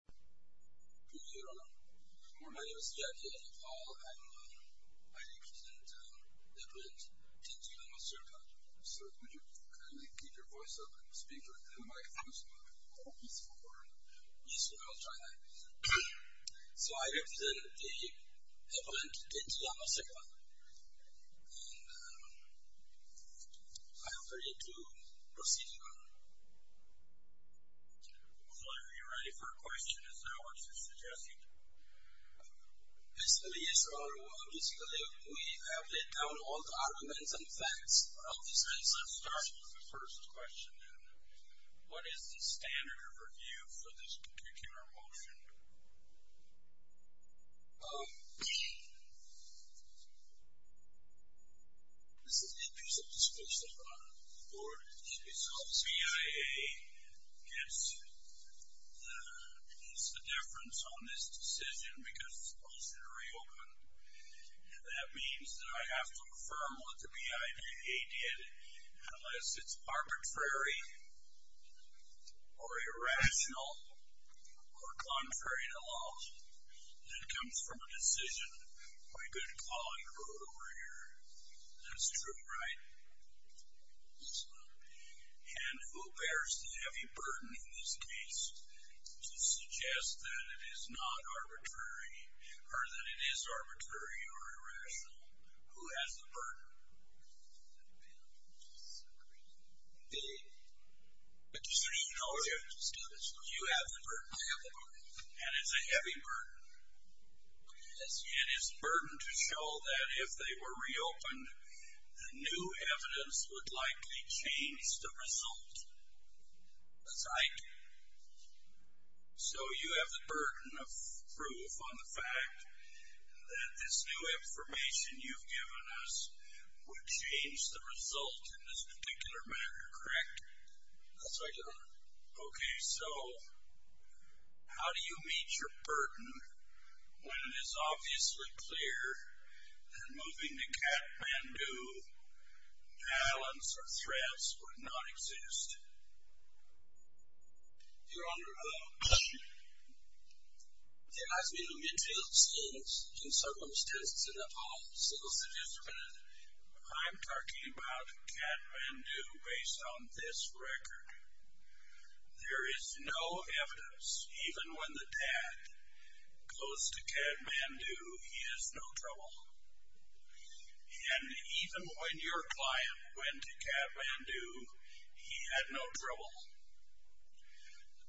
Good day, everyone. My name is Jyoti Lathipal. I represent the emblement Tenzee Lama-Sherpa. So could you kindly keep your voice up and speak into the microphone so we can have a more peaceful corner? Yes, we will try that. So I represent the emblement Tenzee Lama-Sherpa. Well, are you ready for a question? Is that what you're suggesting? Basically, we have laid down all the arguments and facts. So let's start with the first question, then. What is the standard of review for this particular motion? This is a piece of discussion on the Board of Trustees. So BIA gets the difference on this decision because it's supposed to reopen. And that means that I have to affirm what the BIA did unless it's arbitrary or irrational or contrary to law. And it comes from a decision my good colleague wrote over here. That's true, right? And who bears the heavy burden in this case to suggest that it is not arbitrary or that it is arbitrary or irrational? Who has the burden? The decision. No, you have the burden. I have the burden. And it's a heavy burden. It is a burden to show that if they were reopened, the new evidence would likely change the result. That's right. So you have the burden of proof on the fact that this new information you've given us would change the result in this particular matter, correct? That's right, Your Honor. Okay. So how do you meet your burden when it is obviously clear that moving to Kathmandu balance or threats would not exist? Your Honor, as we look into the circumstances of that policy, I'm talking about Kathmandu based on this record. There is no evidence. Even when the dad goes to Kathmandu, he has no trouble. And even when your client went to Kathmandu, he had no trouble.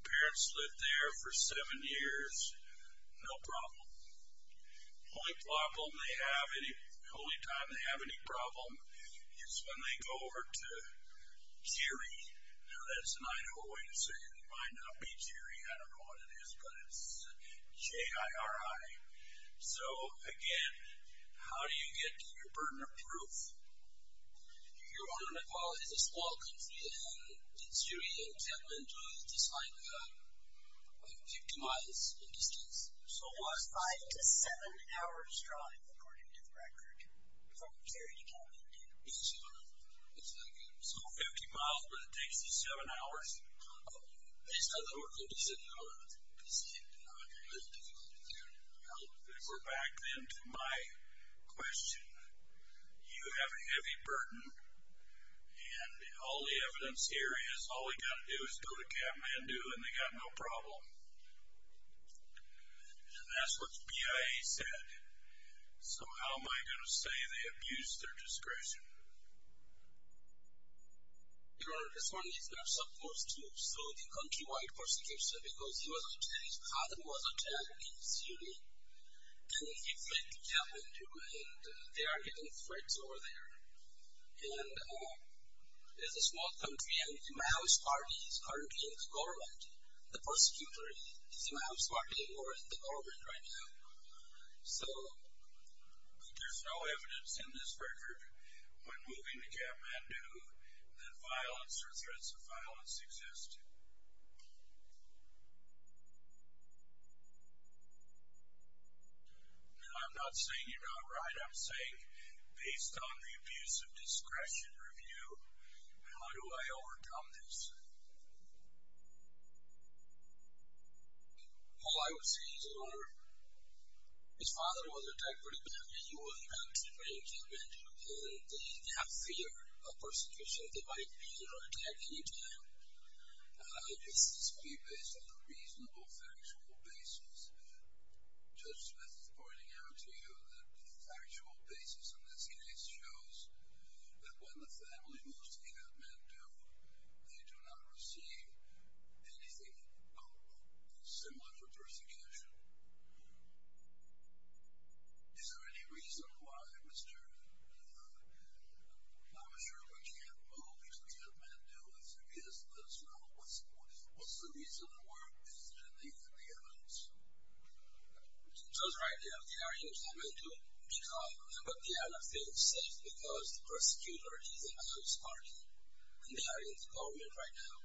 The parents lived there for seven years. No problem. The only time they have any problem is when they go over to Jiri. Now, that's an Idaho way to say it. It might not be Jiri. I don't know what it is. But it's J-I-R-I. So, again, how do you get your burden of proof? Your Honor, Nepal is a small country. And Jiri and Kathmandu is just like 50 miles in distance. So what? Five to seven hours drive, according to the record, from Jiri to Kathmandu. So 50 miles, but it takes you seven hours? Based on the work that you said, Your Honor, it's not a real difficulty there. Well, we're back then to my question. You have a heavy burden. And all the evidence here is all we got to do is go to Kathmandu, and they got no problem. And that's what the BIA said. So how am I going to say they abused their discretion? Your Honor, this one is not supposed to sue the countrywide prosecution because he was a Jiri. His father was a Jiri in Jiri. And he fled to Kathmandu. And they are getting threats over there. And it's a small country. And the Huma House Party is currently in the government, the persecutors. The Huma House Party are in the government right now. So there's no evidence in this record, when moving to Kathmandu, that violence or threats of violence existed. And I'm not saying you're not right. I'm saying, based on the abuse of discretion review, how do I overcome this? All I would say is, Your Honor, his father was attacked pretty badly. And they have fear of persecution. They might be attacked any time. This would be based on a reasonable factual basis. Judge Smith is pointing out to you that the factual basis in this case shows that when the family moves to Kathmandu, they do not receive anything similar to persecution. Is there any reason why Mr. Huma Sherman can't move to Kathmandu? Let us know. What's the reason for the evidence? Judge Wright, they are in Kathmandu. But they are not feeling safe because the persecutors are in the Huma House Party. And they are in the government right now.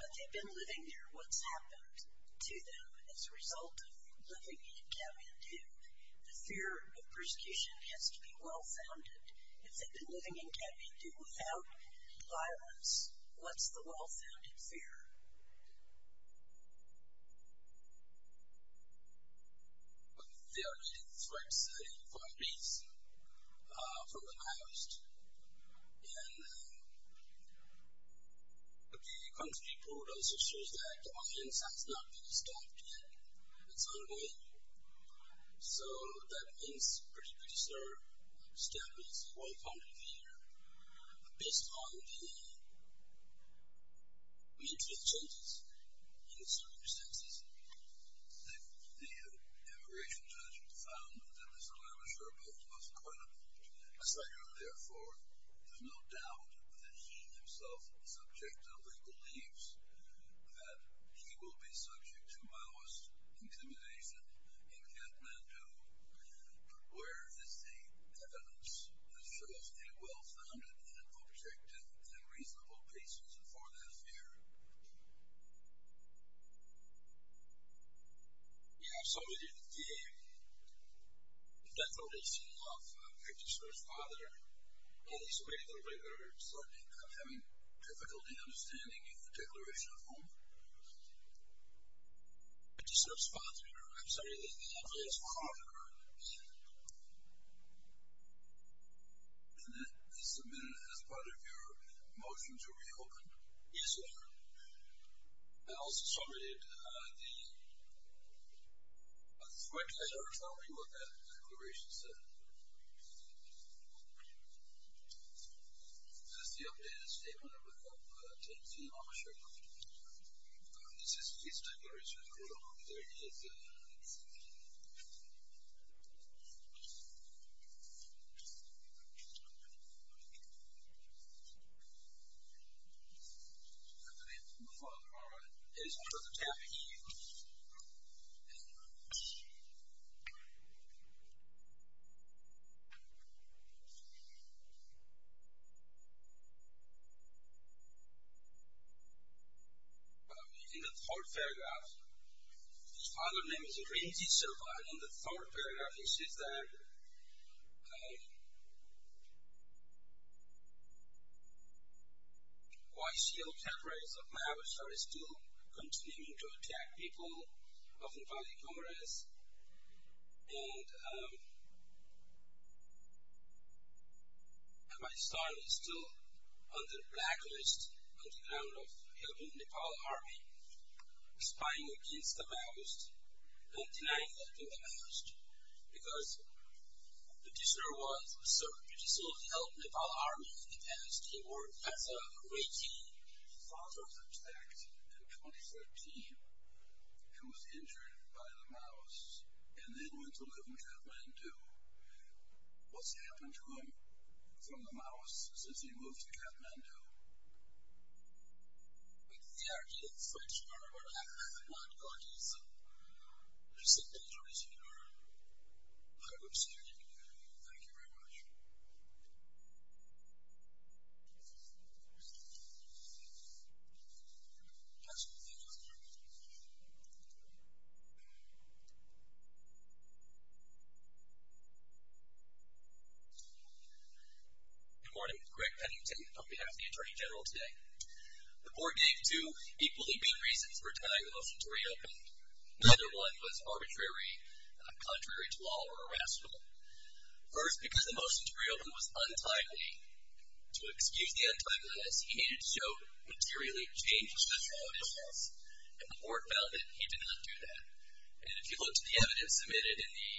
But they've been living there. What's happened to them as a result of living in Kathmandu? The fear of persecution has to be well-founded. If they've been living in Kathmandu without violence, what's the well-founded fear? They are leading threats, leading companies from the past. And the country report also shows that violence has not been stopped yet. It's ongoing. So that means a pretty particular step is well-founded here. But based on the immediate changes in the circumstances, the immigration judge found that Mr. Lavash are both most credible. Therefore, there's no doubt that he himself is subject to the beliefs that he will be subject to malice, intimidation in Kathmandu. But where is the evidence that shows a well-founded and objective and reasonable basis for that fear? Yeah, absolutely. The death notice came off. I picked his first father. And there's some people that are certainly having difficulty understanding the declaration of war. I picked his first father. And there's some people that are certainly having difficulty understanding the declaration of war. And that is submitted as part of your motion to reopen? Yes, sir. I also submitted the threat letter telling me what that declaration said. This is the updated statement of the court. I'll take the officer. This is his declaration of war. There it is. My father is further tapping. In the third paragraph, his father's name is Renzi Silva. And in the third paragraph, he says that... ...YCL terrorists of Mahabharata are still continuing to attack people, often by the Congress. And my son is still on the blacklist on the ground of helping Nepal Army, spying against the Maoists, and denying helping the Maoists, because the petitioner was a certain petitioner of the helping Nepal Army in the past. He worked as a reiki father, in fact, in 2013. He was injured by the Maoists, and then went to live in Kathmandu. What's happened to him from the Maoists since he moved to Kathmandu? The idea is that you are a blacklist. I'm not going to use that. There's some people raising their voices. Thank you very much. Thank you. Good morning. Greg Pennington on behalf of the Attorney General today. The court gave two equally big reasons for denying the motion to reopen. Neither one was arbitrary, contrary to law, or irrational. First, because the motion to reopen was untimely. To excuse the untimeliness, he needed to show materially changed judicial admissions, and the court found that he did not do that. And if you look to the evidence submitted in the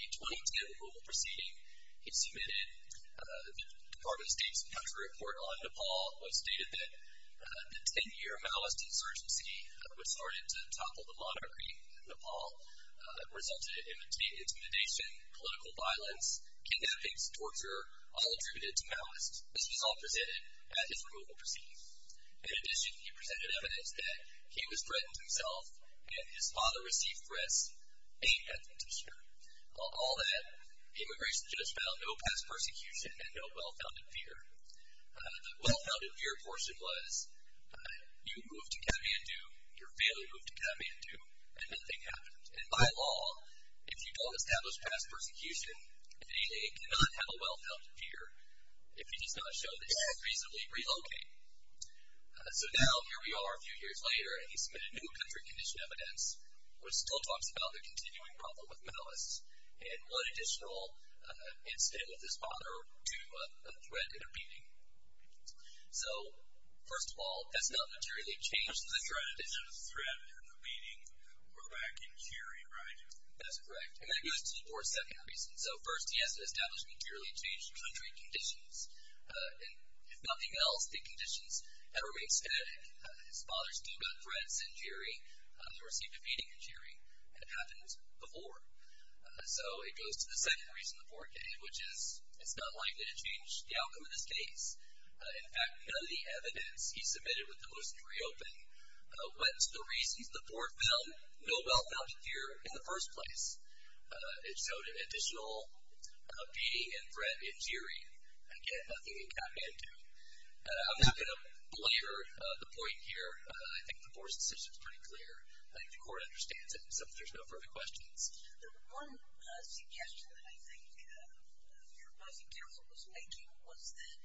2010 rule proceeding, he submitted the Department of State's country report on Nepal, which stated that the 10-year Maoist insurgency, which started to topple the monarchy in Nepal, resulted in intimidation, political violence, kidnappings, torture, all attributed to Maoists. This was all presented at his removal proceedings. In addition, he presented evidence that he was threatened himself, and his father received threats aimed at the district. All that, the immigration judge found no past persecution and no well-founded fear. The well-founded fear portion was you moved to Kathmandu, your family moved to Kathmandu, and nothing happened. And by law, if you don't establish past persecution, they cannot have a well-founded fear, if you just don't show that you have reasonably relocated. So now, here we are a few years later, and he submitted new country condition evidence, which still talks about the continuing problem with Maoists, and one additional incident with his father to a threat intervening. So, first of all, that's not materially changed the threat. He was threatened in the meeting back in Jiri, right? That's correct. And that goes to the fourth, second reason. So first, he hasn't established materially changed country conditions. And if nothing else, the conditions have remained static. His father still got threats in Jiri. They received a meeting in Jiri, and it happened before. So it goes to the second reason, the fourth, which is, it's not likely to change the outcome of this case. In fact, none of the evidence he submitted with the motion to reopen went to the reasons the board felt no well-founded fear in the first place. It showed an additional beating and threat in Jiri. Again, nothing in Kathmandu. I'm not going to blare the point here. I think the board's decision is pretty clear. I think the court understands it, so there's no further questions. The one suggestion that I think your budget counsel was making was that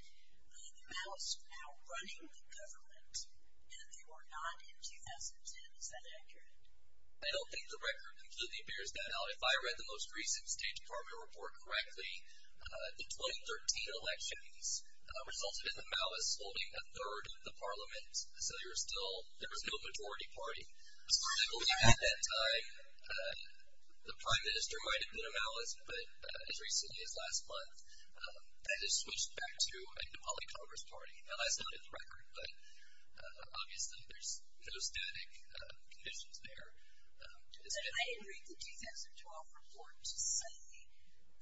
the Maoists were outrunning the government, and they were not in 2010. Is that accurate? I don't think the record completely bears that out. If I read the most recent State Department report correctly, the 2013 elections resulted in the Maoists holding a third of the parliament, so there was no majority party. So I believe at that time the prime minister might have been a Maoist, but as recently as last month, that has switched back to a Nepali Congress party. Now, that's not in the record, but obviously there's no static conditions there. And I didn't read the 2012 report to say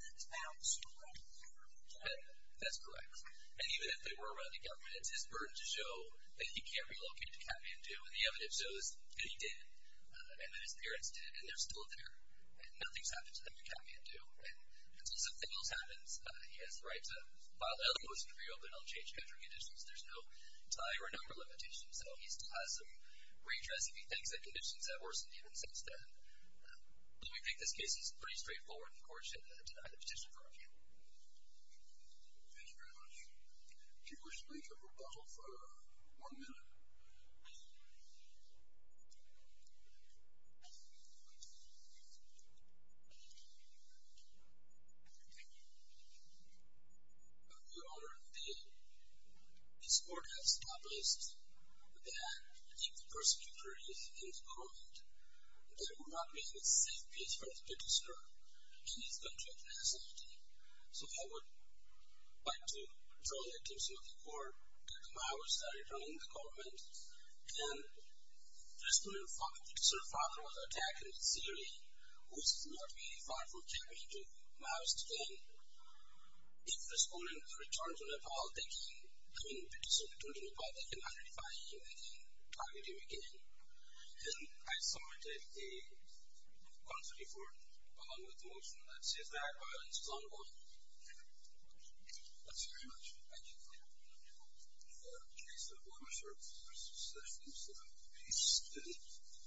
that's about 20% of the government. That's correct. And even if they were running government, it's his burden to show that he can't relocate to Kathmandu, and the evidence shows that he did, and that his parents did, and they're still there, and nothing's happened to them in Kathmandu. And until something else happens, he has the right to file another motion for reopenal and change country conditions. There's no tie or number limitation, so he still has some redress if he thinks that conditions have worsened even since then. But we think this case is pretty straightforward, and the court should deny the petition for review. Thank you very much. Do you wish to make a rebuttal for one minute? Your Honor, this court has established that if the persecutor is in the government, there would not be a safe place for the petitioner in his country of nationality. So I would like to draw the attention of the court that the Maoists are running the government, and the petitioner's father was attacked in Syria, which is not very far from Germany, to Maoist gang. If the petitioner returns to Nepal, they can identify him, they can target him again. And I submitted a constitutional report along with a motion that says that violence is unlawful. Thank you. Thank you very much. Thank you. Thank you, Your Honor. The case is now closed. There are recessions. Peace. Good evening.